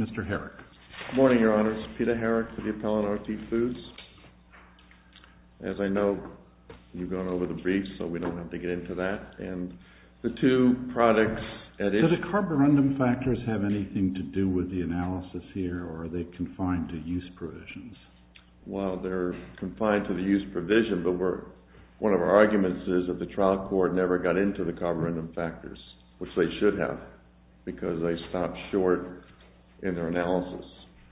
Mr. Herrick. Good morning, Your Honors. Peter Herrick for the Appellant, R.T. Foods. As I know, you've gone over the briefs, so we don't have to get into that. And the two products at issue... Do the carborundum factors have anything to do with the analysis here, or are they confined to use provisions? Well, they're confined to the use provision, but one of our arguments is that the trial court never got into the carborundum factors, which they should have, because they stopped short in their analysis.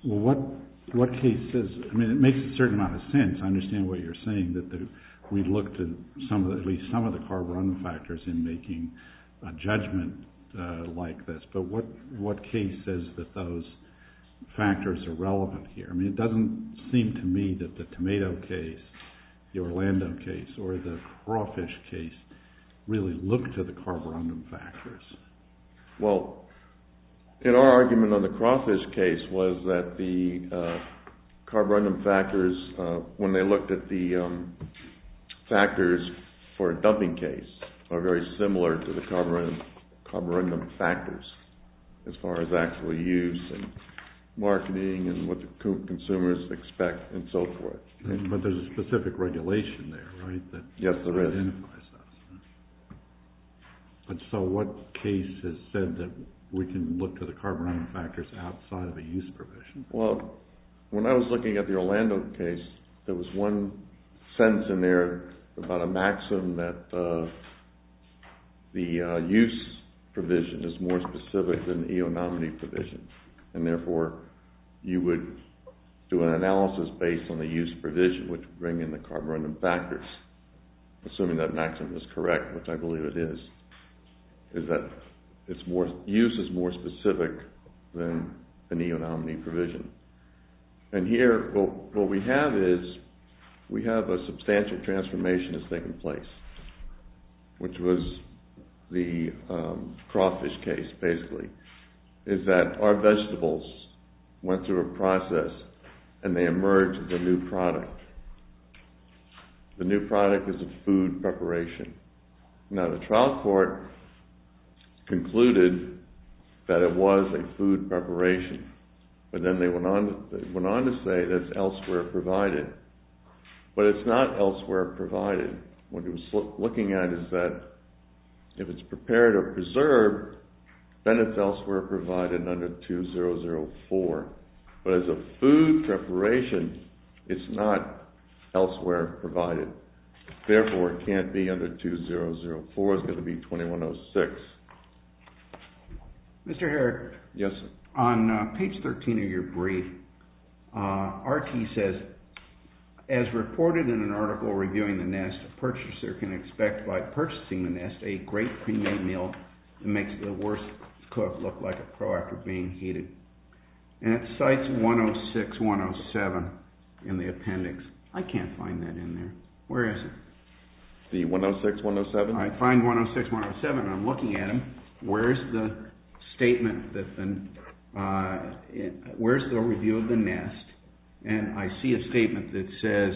Well, what case says... I mean, it makes a certain amount of sense. I understand what you're saying, that we looked at at least some of the carborundum factors in making a judgment like this, but what case says that those factors are relevant here? I mean, it doesn't seem to me that the tomato case, the Orlando case, or the crawfish case really look to the carborundum factors. Well, in our argument on the crawfish case was that the carborundum factors, when they looked at the factors for a dumping case, are very similar to the carborundum factors as far as actual use and marketing and what the consumers expect and so forth. But there's a specific regulation there, right? Yes, there is. But so what case has said that we can look to the carborundum factors outside of a use provision? Well, when I was looking at the Orlando case, there was one sentence in there about a maxim that the use provision is more specific than the eonominy provision, and therefore you would do an analysis based on the use provision, which would bring in the carborundum factors, assuming that maxim is correct, which I believe it is, is that use is more specific than the eonominy provision. And here, what we have is, we have a substantial transformation that's taken place, which was the crawfish case, basically, is that our vegetables went through a process and they emerged as a new product. The new product is a food preparation. Now, the trial court concluded that it was a food preparation, but then they went on to say that it's elsewhere provided. But it's not elsewhere provided. What it was looking at is that if it's prepared or preserved, then it's elsewhere provided under 2004. But as a food preparation, it's not elsewhere provided. Therefore, it can't be under 2004. It's got to be 2106. Mr. Herrick? Yes, sir. On page 13 of your brief, RT says, as reported in an article reviewing the NEST, a purchaser can expect by purchasing the NEST a great premium meal that makes the worst cook look like a pro after being heated. And it cites 106, 107 in the appendix. I can't find that in there. Where is it? The 106, 107? I find 106, 107. I'm looking at them. Where's the review of the NEST? And I see a statement that says,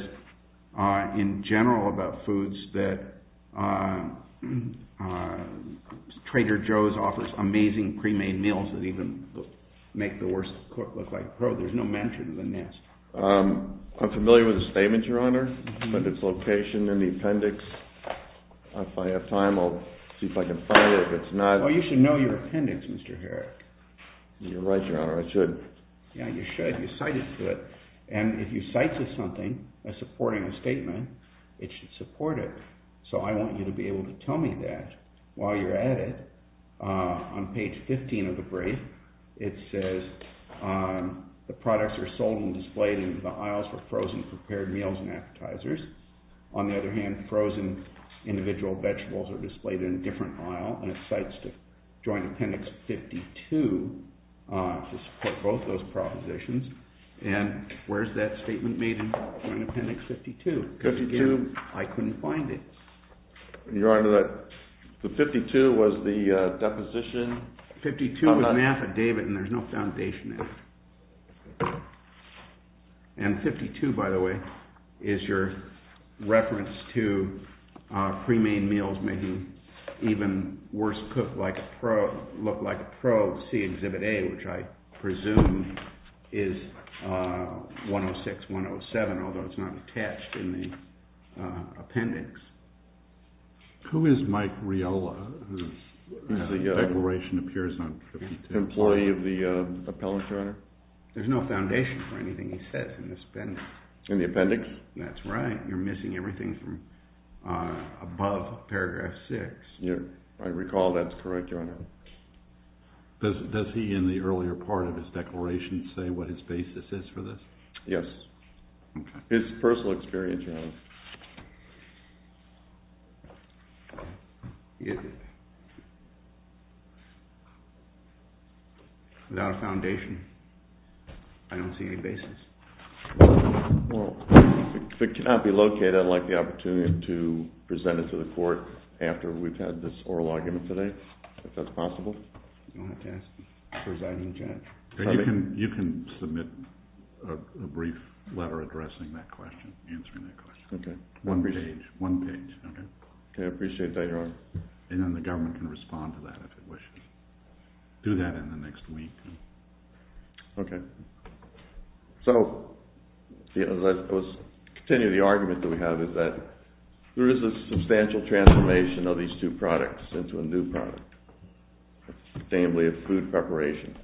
in general about foods, that Trader Joe's offers amazing pre-made meals that even make the worst cook look like a pro. There's no mention of the NEST. I'm familiar with the statement, Your Honor, but its location in the appendix. If I have time, I'll see if I can find it. If it's not- Oh, you should know your appendix, Mr. Herrick. You're right, Your Honor. I should. Yeah, you should. You cited it. And if you cite something as supporting a statement, it should support it. So I want you to be able to tell me that while you're at it. On page 15 of the brief, it says the products are sold and displayed in the aisles for frozen prepared meals and appetizers. On the other hand, frozen individual vegetables are displayed in a different aisle, and it cites Joint Appendix 52 to support both those propositions. And where's that statement made in Joint Appendix 52? I couldn't find it. Your Honor, the 52 was the deposition- 52 was an affidavit, and there's no foundation in it. And 52, by the way, is your reference to pre-made meals making even worse look like a probe, see Exhibit A, which I presume is 106, 107, although it's not attached in the appendix. Who is Mike Riella, who the declaration appears on 52? Employee of the appellate, Your Honor. There's no foundation for anything he says in this appendix. In the appendix? That's right. You're missing everything from above paragraph 6. Yeah, I recall that's correct, Your Honor. Does he, in the earlier part of his declaration, say what his basis is for this? Yes. His personal experience, Your Honor. Without a foundation, I don't see any basis. Well, if it cannot be located, I'd like the opportunity to present it to the court after we've had this oral argument today, if that's possible. You'll have to ask the presiding judge. You can submit a brief letter addressing that question, answering that question. Okay. One page, one page, okay? Okay, I appreciate that, Your Honor. And then the government can respond to that if it wishes. Do that in the next week. Okay. So, let's continue the argument that we have is that there is a substantial transformation of these two products into a new product, namely a food preparation.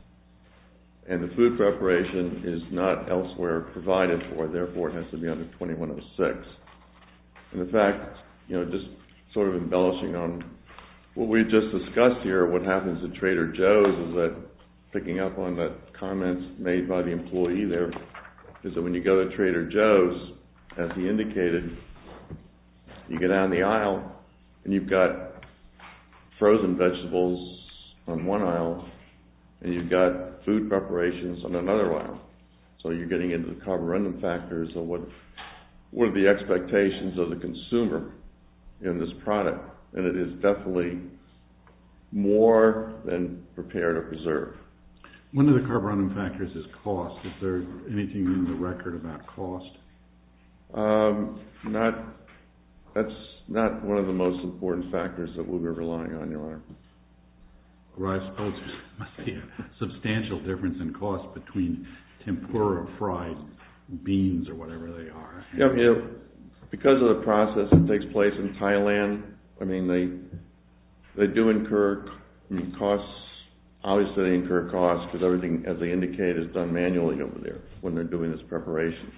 And the food preparation is not elsewhere provided for, therefore it has to be under 2106. And in fact, you know, just sort of embellishing on what we've just discussed here, what happens to Trader Joe's is that, picking up on the comments made by the employee there, is that when you go to Trader Joe's, as he indicated, you go down the aisle and you've got frozen vegetables on one aisle and you've got food preparations on another aisle. So, you're getting into the carburetor factors of what are the expectations of the consumer in this product. And it is definitely more than prepared or preserved. One of the carburetor factors is cost. Is there anything in the record about cost? Not, that's not one of the most important factors that we'll be relying on, Your Honor. Rice pulses must be a substantial difference in cost between tempura, fries, beans, or whatever they are. Yeah, because of the process that takes place in Thailand, I mean, they do incur costs. Obviously, they incur costs because everything, as they indicate, is done manually over there when they're doing this preparation,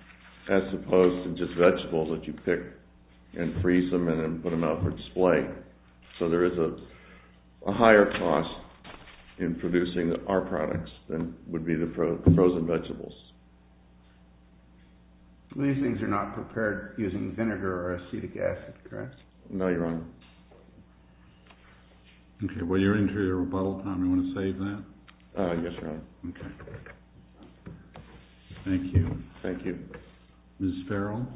as opposed to just vegetables that you pick and freeze them and then put them out for display. So, there is a higher cost in producing our products than would be the frozen vegetables. These things are not prepared using vinegar or acetic acid, correct? No, Your Honor. Okay, well, you're into your rebuttal time. You want to save that? Yes, Your Honor. Okay. Thank you. Thank you. Ms. Farrell?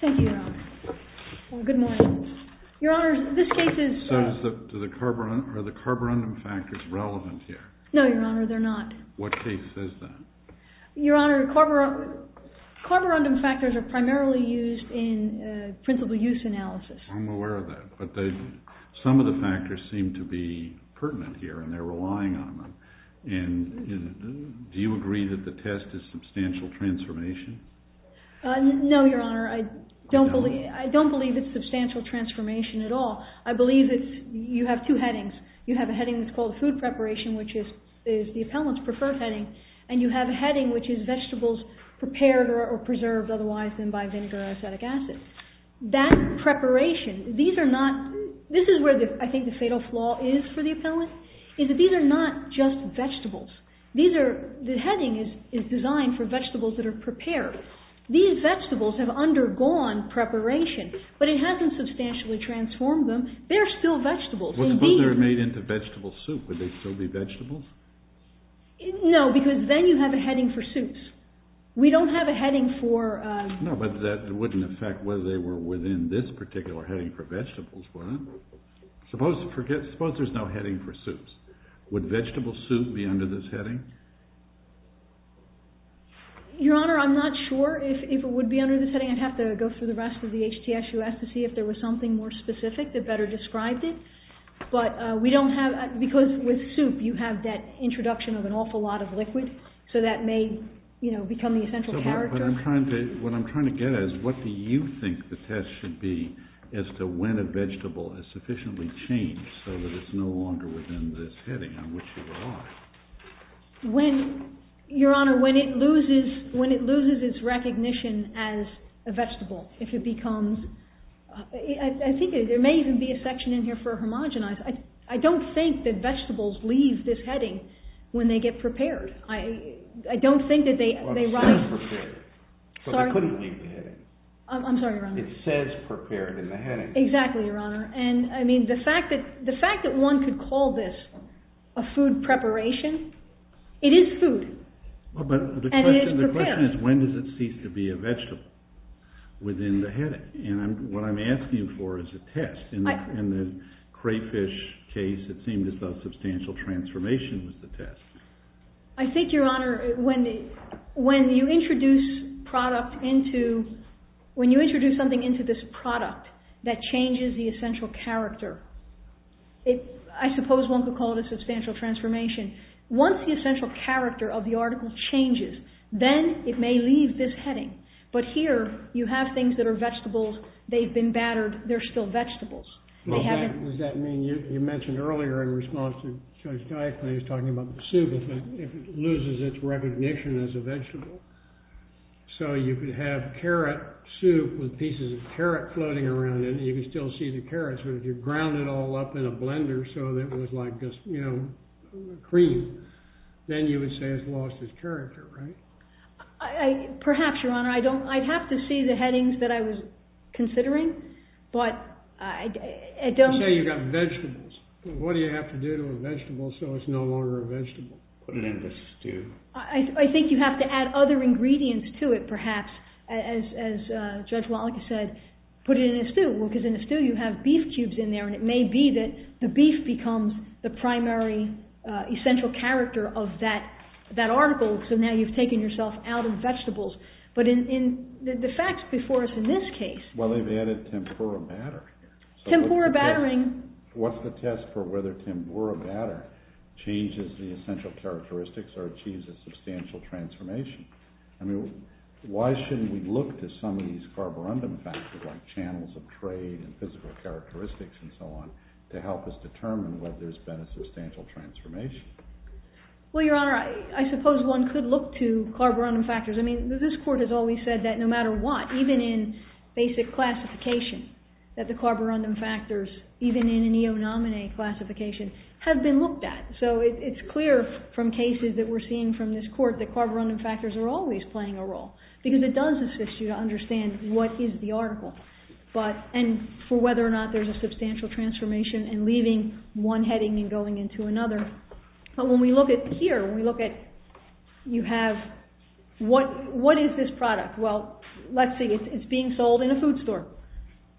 Thank you, Your Honor. Well, good morning. Your Honor, this case is... So, are the carburetor factors relevant here? No, Your Honor, they're not. What case says that? Your Honor, carburetor factors are primarily used in principal use analysis. I'm aware of that, but some of the factors seem to be pertinent here, and they're relying on them. And do you agree that the test is substantial transformation? No, Your Honor, I don't believe it's substantial transformation at all. I believe it's...you have two headings. You have a heading that's called food preparation, which is the appellant's preferred heading, and you have a heading which is vegetables prepared or preserved otherwise than by vinegar or acetic acid. That preparation, these are not... This is where I think the fatal flaw is for the appellant, is that these are not just vegetables. These are...the heading is designed for vegetables that are prepared. These vegetables have undergone preparation, but it hasn't substantially transformed them. They're still vegetables. Well, suppose they were made into vegetable soup. Would they still be vegetables? No, because then you have a heading for soups. We don't have a heading for... No, but that wouldn't affect whether they were within this particular heading for vegetables, would it? Suppose there's no heading for soups. Would vegetable soup be under this heading? Your Honor, I'm not sure if it would be under this heading. I'd have to go through the rest of the HTSUS to see if there was something more specific that better described it. But we don't have...because with soup, you have that introduction of an awful lot of liquid, so that may, you know, become the essential character. But I'm trying to...what I'm trying to get at is what do you think the test should be as to when a vegetable has sufficiently changed so that it's no longer within this heading on which you are? When...Your Honor, when it loses its recognition as a vegetable, if it becomes... I think there may even be a section in here for homogenized. I don't think that vegetables leave this heading when they get prepared. I don't think that they... Well, it says prepared, so they couldn't leave the heading. I'm sorry, Your Honor. It says prepared in the heading. Exactly, Your Honor. And, I mean, the fact that one could call this a food preparation, it is food. But the question is when does it cease to be a vegetable within the heading? And what I'm asking for is a test. In the crayfish case, it seemed as though substantial transformation was the test. I think, Your Honor, when you introduce product into...when you introduce something into this product that changes the essential character, I suppose one could call it a substantial transformation. Once the essential character of the article changes, then it may leave this heading. But here, you have things that are vegetables. They've been battered. They're still vegetables. Does that mean...you mentioned earlier in response to Judge Geisler, he was talking about the soup effect. If it loses its recognition as a vegetable, so you could have carrot soup with pieces of carrot floating around in it, you could still see the carrots, but if you ground it all up in a blender so that it was like this, you know, cream, then you would say it's lost its character, right? Perhaps, Your Honor. I'd have to see the headings that I was considering, but I don't... You say you've got vegetables. What do you have to do to a vegetable so it's no longer a vegetable? Put it in the stew. I think you have to add other ingredients to it, perhaps, as Judge Wallach said, put it in a stew. Well, because in a stew, you have beef cubes in there, and it may be that the beef becomes the primary essential character of that article. So now you've taken yourself out of vegetables, but in the facts before us in this case... Well, they've added tempura batter. Tempura battering. What's the test for whether tempura batter changes the essential characteristics or achieves a substantial transformation? I mean, why shouldn't we look to some of these carborundum factors, like channels of trade and physical characteristics and so on, to help us determine whether there's been a substantial transformation? Well, Your Honor, I suppose one could look to carborundum factors. I mean, this Court has always said that no matter what, even in basic classification, that the carborundum factors, even in a neo-nominee classification, have been looked at. So it's clear from cases that we're seeing from this Court that carborundum factors are always playing a role, because it does assist you to understand what is the article, and for whether or not there's a substantial transformation, and leaving one heading and going into another. But when we look at here, when we look at... You have... What is this product? Well, let's see, it's being sold in a food store.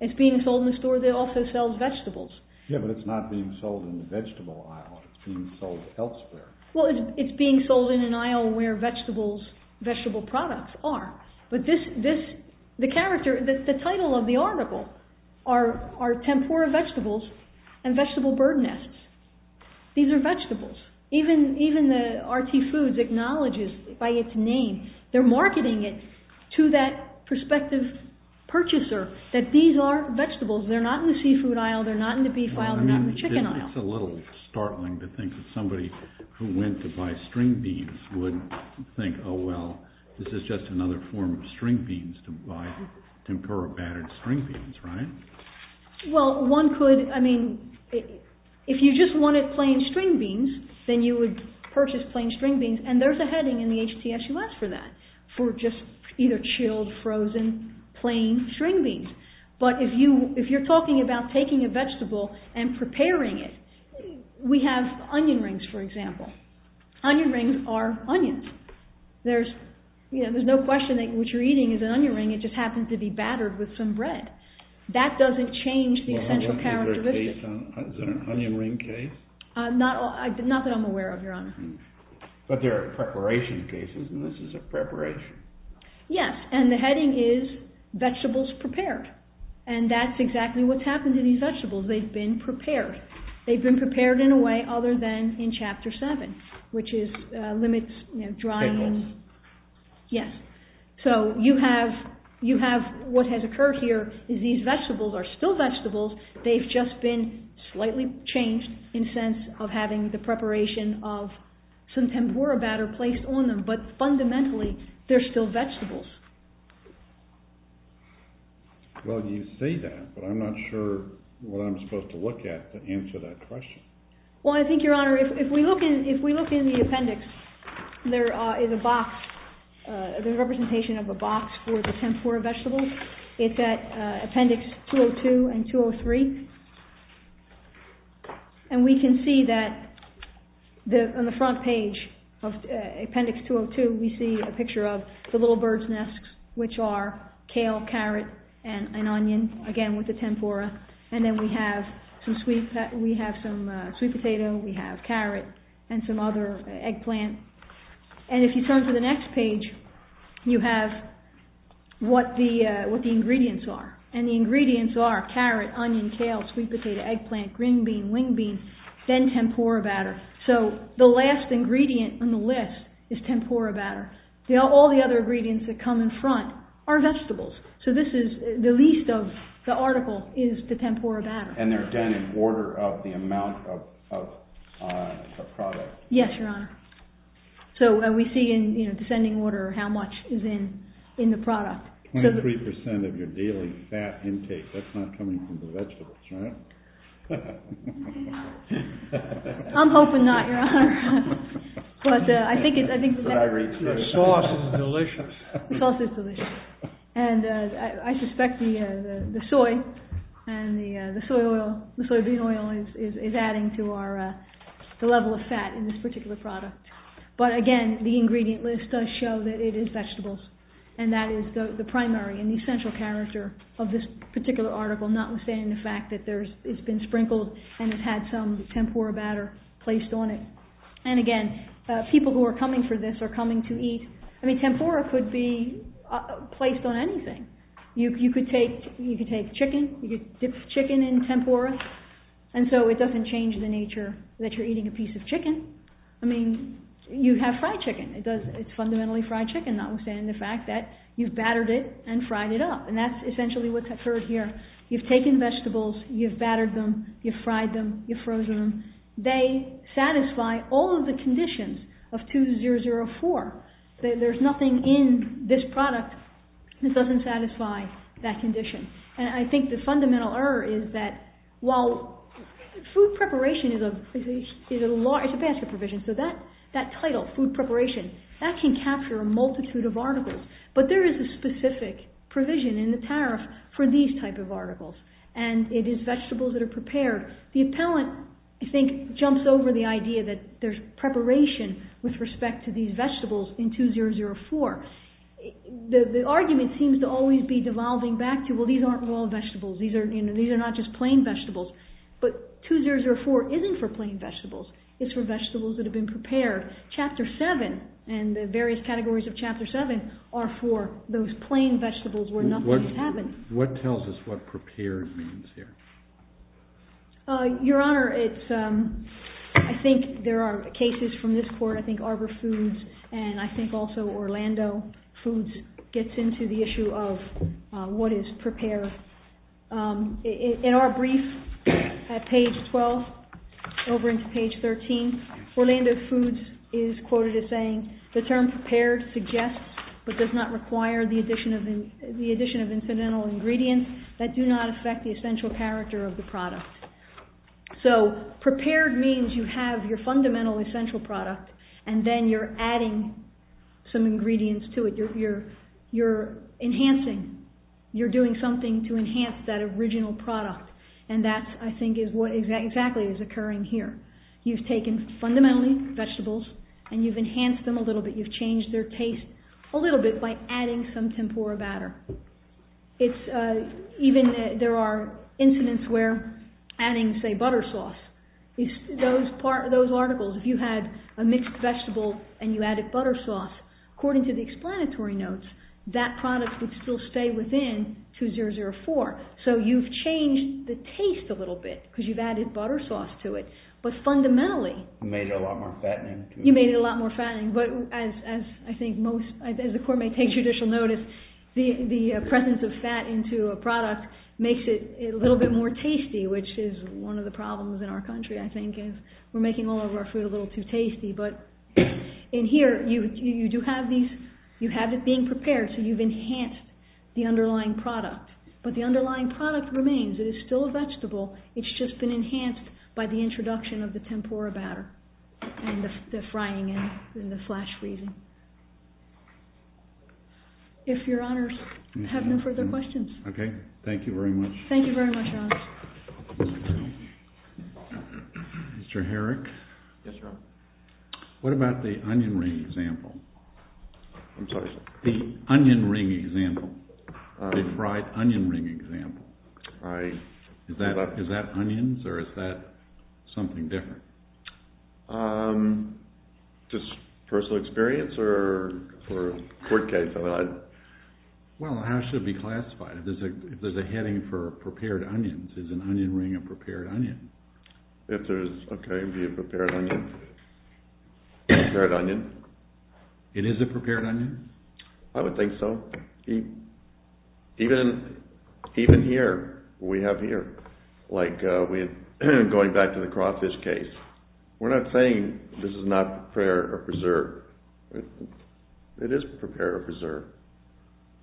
It's being sold in a store that also sells vegetables. Yeah, but it's not being sold in the vegetable aisle, it's being sold elsewhere. Well, it's being sold in an aisle where vegetable products are. But this... The character, the title of the article are tempura vegetables and vegetable bird nests. These are vegetables. Even the RT Foods acknowledges, by its name, they're marketing it to that prospective purchaser, that these are vegetables, they're not in the seafood aisle, they're not in the beef aisle, they're not in the chicken aisle. It's a little startling to think that somebody who went to buy string beans would think, oh well, this is just another form of string beans to buy, tempura battered string beans, right? Well, one could... I mean, if you just wanted plain string beans, then you would purchase plain string beans, and there's a heading in the HTSUS for that, for just either chilled, frozen, plain string beans. But if you're talking about taking a vegetable and preparing it, we have onion rings, for example. Onion rings are onions. There's no question that what you're eating is an onion ring, it just happens to be battered with some bread. That doesn't change the essential characteristics. Is it an onion ring case? Not that I'm aware of, Your Honor. But there are preparation cases, and this is a preparation. Yes, and the heading is Vegetables Prepared. And that's exactly what's happened to these vegetables, they've been prepared. They've been prepared in a way other than in Chapter 7, which is limits, you know, drying... Pickles. Yes. So, you have what has occurred here, is these vegetables are still vegetables, they've just been slightly changed in the sense of having the preparation of some tempura batter placed on them, but fundamentally, they're still vegetables. Well, you say that, but I'm not sure what I'm supposed to look at to answer that question. Well, I think, Your Honor, if we look in the appendix, there is a box, there's a representation of a box for the tempura vegetables. It's at Appendix 202 and 203. And we can see that on the front page of Appendix 202, we see a picture of the little bird's nests, which are kale, carrot, and onion, again with the tempura. And then we have some sweet potato, we have carrot, and some other eggplant. And if you turn to the next page, you have what the ingredients are. And the ingredients are carrot, onion, kale, sweet potato, eggplant, green bean, wing bean, then tempura batter. So, the last ingredient on the list is tempura batter. All the other ingredients that come in front are vegetables. So, the least of the article is the tempura batter. And they're done in order of the amount of product? Yes, Your Honor. So, we see in descending order how much is in the product. 23% of your daily fat intake, that's not coming from the vegetables, right? I'm hoping not, Your Honor. But I think the sauce is delicious. The sauce is delicious. And I suspect the soy and the soybean oil is adding to the level of fat in this particular product. But again, the ingredient list does show that it is vegetables. And that is the primary and the essential character of this particular article, notwithstanding the fact that it's been sprinkled and it's had some tempura batter placed on it. And again, people who are coming for this are coming to eat. I mean, tempura could be placed on anything. You could take chicken, you could dip chicken in tempura. And so, it doesn't change the nature that you're eating a piece of chicken. I mean, you have fried chicken. It's fundamentally fried chicken, notwithstanding the fact that you've battered it and fried it up. And that's essentially what's occurred here. You've taken vegetables, you've battered them, you've fried them, you've frozen them. They satisfy all of the conditions of 2004. There's nothing in this product that doesn't satisfy that condition. And I think the fundamental error is that while food preparation is a large, it's a basket provision. So that title, food preparation, that can capture a multitude of articles. But there is a specific provision in the tariff for these type of articles. And it is vegetables that are prepared. The appellant, I think, jumps over the idea that there's preparation with respect to these vegetables in 2004. The argument seems to always be devolving back to, well, these aren't raw vegetables. These are not just plain vegetables. But 2004 isn't for plain vegetables. It's for vegetables that have been prepared. Chapter 7 and the various categories of Chapter 7 are for those plain vegetables where nothing's happened. What tells us what prepared means here? Your Honor, I think there are cases from this court. I think Arbor Foods and I think also Orlando Foods gets into the issue of what is prepared. In our brief at page 12 over into page 13, Orlando Foods is quoted as saying, the term prepared suggests but does not require the addition of incidental ingredients that do not affect the essential character of the product. So prepared means you have your fundamental essential product and then you're adding some ingredients to it. You're enhancing. You're doing something to enhance that original product and that, I think, is what exactly is occurring here. You've taken fundamentally vegetables and you've enhanced them a little bit. You've changed their taste a little bit by adding some tempura batter. It's even, there are incidents where adding, say, butter sauce. Those articles, if you had a mixed vegetable and you added butter sauce, according to the explanatory notes, that product would still stay within 2004. So you've changed the taste a little bit because you've added butter sauce to it. But fundamentally... You made it a lot more fattening. You made it a lot more fattening. But as I think most, as the court may take judicial notice, the presence of fat into a product makes it a little bit more tasty, which is one of the problems in our country, I think, is we're making all of our food a little too tasty. But in here, you do have these, you have it being prepared, so you've enhanced the underlying product. But the underlying product remains. It is still a vegetable. It's just been enhanced by the introduction of the tempura batter and the frying and the flash freezing. If Your Honours have no further questions. Thank you very much. Thank you very much, Your Honours. Mr. Herrick? Yes, Your Honour. What about the onion ring example? I'm sorry? The onion ring example. The fried onion ring example. I... Is that onions or is that something different? Just personal experience or court case? Well, how should it be classified? If there's a heading for prepared onions, is an onion ring a prepared onion? If there's... Okay, it would be a prepared onion. Prepared onion. It is a prepared onion? I would think so. Even here, we have here, like going back to the crawfish case. We're not saying this is not prepared or preserved. It is prepared or preserved.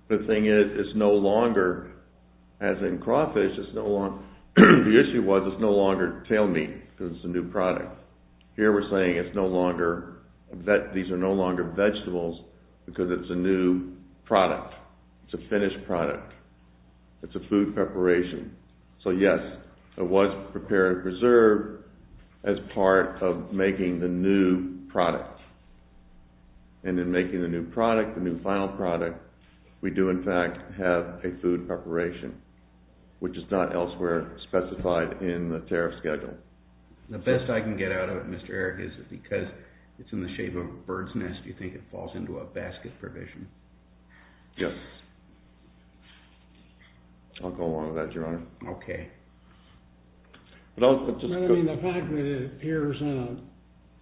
The thing is, it's no longer, as in crawfish, it's no longer... The issue was, it's no longer tail meat because it's a new product. Here, we're saying it's no longer... That these are no longer vegetables because it's a new product. It's a finished product. It's a food preparation. So, yes, it was prepared or preserved as part of making the new product. And in making the new product, the new final product, we do, in fact, have a food preparation, which is not elsewhere specified in the tariff schedule. The best I can get out of it, Mr. Eric, is that because it's in the shape of a bird's nest, you think it falls into a basket provision? I'll go along with that, Your Honor. Okay. But I'll just... I mean, the fact that it appears in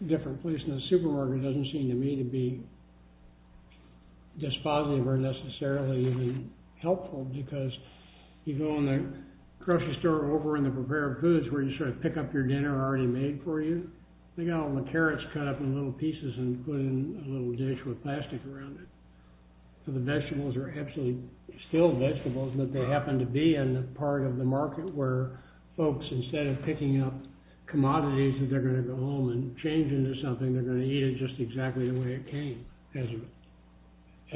a different place in the supermarket doesn't seem to me to be dispositive or necessarily even helpful because you go in the grocery store over in the prepared foods where you sort of pick up your dinner already made for you, they got all the carrots cut up in little pieces and put in a little dish with plastic around it. So the vegetables are absolutely still vegetables, but they happen to be in the part of the market where folks, instead of picking up commodities that they're going to go and change into something, they're going to eat it just exactly the way it came as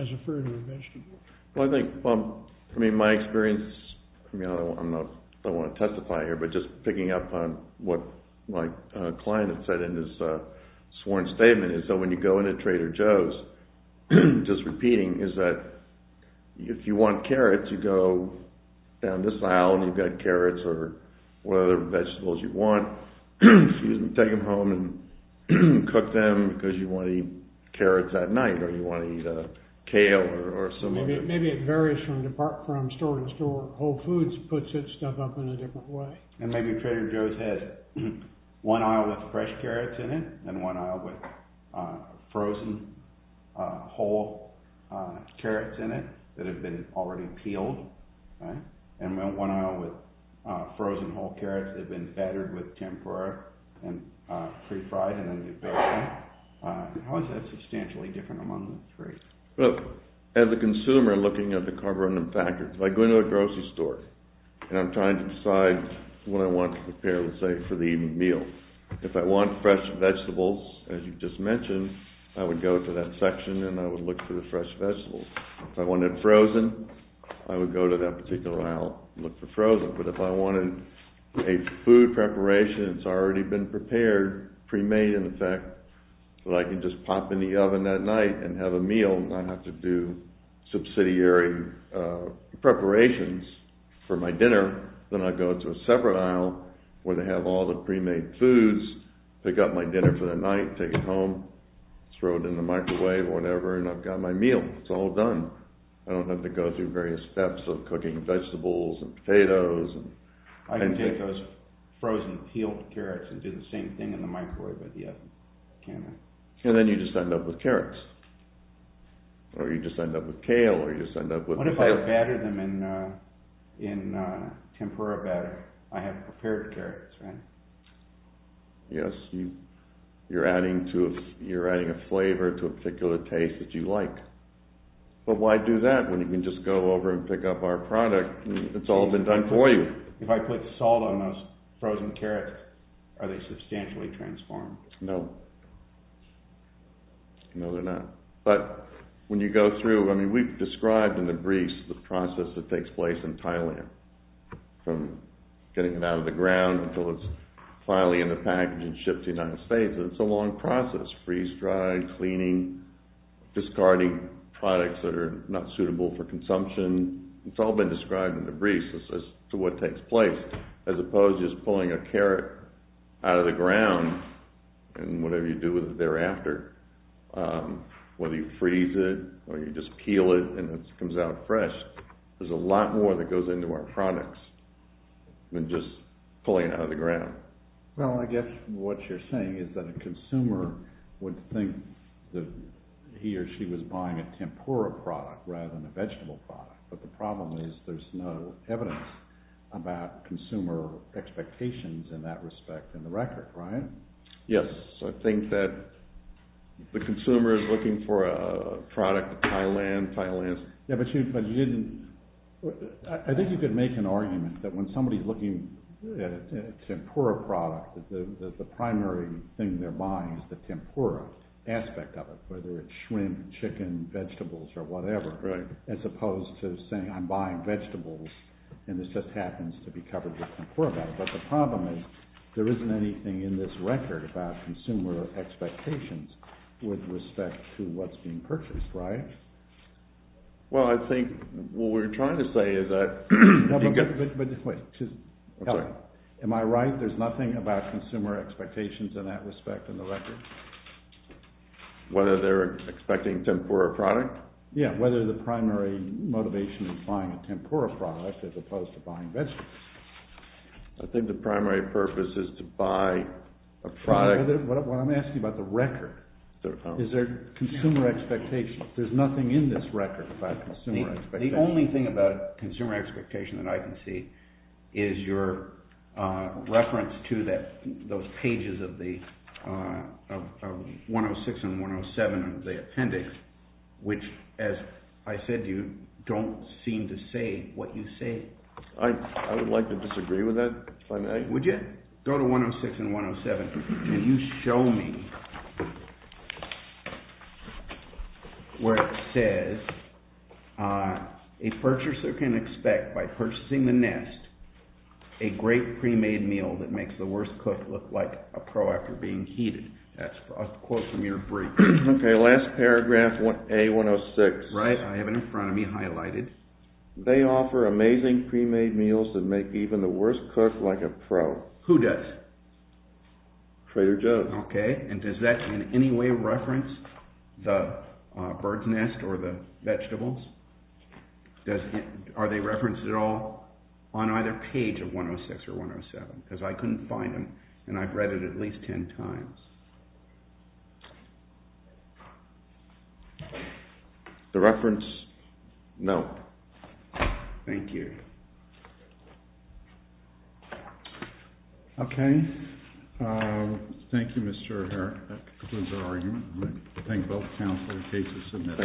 a fruit or a vegetable. Well, I think, I mean, my experience, I don't want to testify here, but just picking up on what my client had said in his sworn statement is that when you go into Trader Joe's, just repeating, is that if you want carrots, you go down this aisle and you've got cooked them because you want to eat carrots at night, or you want to eat kale or some of it. Maybe it varies from store to store. Whole Foods puts its stuff up in a different way. And maybe Trader Joe's has one aisle with fresh carrots in it and one aisle with frozen whole carrots in it that have been already peeled. And one aisle with frozen whole carrots that have been battered with tempura and pre-fried and then you bake them. How is that substantially different among the three? Well, as a consumer looking at the carborundum factors, if I go into a grocery store and I'm trying to decide what I want to prepare, let's say, for the meal, if I want fresh vegetables, as you just mentioned, I would go to that section and I would look for the fresh vegetables. If I wanted frozen, I would go to that particular aisle and look for frozen. But if I wanted a food preparation that's already been prepared, pre-made, in effect, that I can just pop in the oven that night and have a meal and not have to do subsidiary preparations for my dinner, then I'd go to a separate aisle where they have all the pre-made foods, pick up my dinner for the night, take it home, throw it in the microwave or whatever, and I've got my meal. It's all done. I don't have to go through various steps of cooking vegetables and potatoes. I can take those frozen, peeled carrots and do the same thing in the microwave, but yet I can't. And then you just end up with carrots. Or you just end up with kale or you just end up with... What if I batter them in tempura batter? I have prepared carrots, right? Yes, you're adding a flavor to a particular taste that you like. But why do that when you can just go over and pick up our product? It's all been done for you. If I put salt on those frozen carrots, are they substantially transformed? No. No, they're not. But when you go through, I mean, we've described in the briefs the process that takes place in Thailand, from getting it out of the ground until it's finally in the package and shipped to the United States. It's a long process, freeze, dry, cleaning, discarding products that are not suitable for consumption. It's all been described in the briefs as to what takes place, as opposed to just pulling a carrot out of the ground and whatever you do with it thereafter. Whether you freeze it or you just peel it and it comes out fresh, there's a lot more that goes into our products than just pulling it out of the ground. Well, I guess what you're saying is that a consumer would think that he or she was buying a tempura product rather than a vegetable product. But the problem is there's no evidence about consumer expectations in that respect in the record, right? Yes. I think that the consumer is looking for a product, Thailand, Thailand. Yeah, but you didn't, I think you could make an argument that when somebody's looking at a tempura product, the primary thing they're buying is the tempura aspect of it, whether it's shrimp, chicken, vegetables or whatever, as opposed to saying, I'm buying vegetables and this just happens to be covered with tempura. But the problem is there isn't anything in this record about consumer expectations with respect to what's being purchased, right? Well, I think what we're trying to say is that... No, but wait, just tell me, am I right? There's nothing about consumer expectations in that respect in the record? Whether they're expecting tempura product? Yeah. Whether the primary motivation is buying a tempura product as opposed to buying vegetables. I think the primary purpose is to buy a product... What I'm asking about the record, is there consumer expectation? There's nothing in this record about consumer expectation. The only thing about consumer expectation that I can see is your reference to those pages of the 106 and 107 of the appendix, which, as I said, you don't seem to say what you say. I would like to disagree with that. Would you go to 106 and 107 and you show me where it says, a purchaser can expect by purchasing the nest, a great pre-made meal that makes the worst cook look like a pro after being heated. That's a quote from your brief. OK, last paragraph, A106. Right, I have it in front of me, highlighted. They offer amazing pre-made meals that make even the worst cook like a pro. Who does? Trader Joe's. OK, and does that in any way reference the bird's nest or the vegetables? Are they referenced at all on either page of 106 or 107? Because I couldn't find them and I've read it at least 10 times. The reference, no, thank you. OK, thank you, Mr. Herrick, that concludes our argument. I'd like to thank both counsel and the case to submit.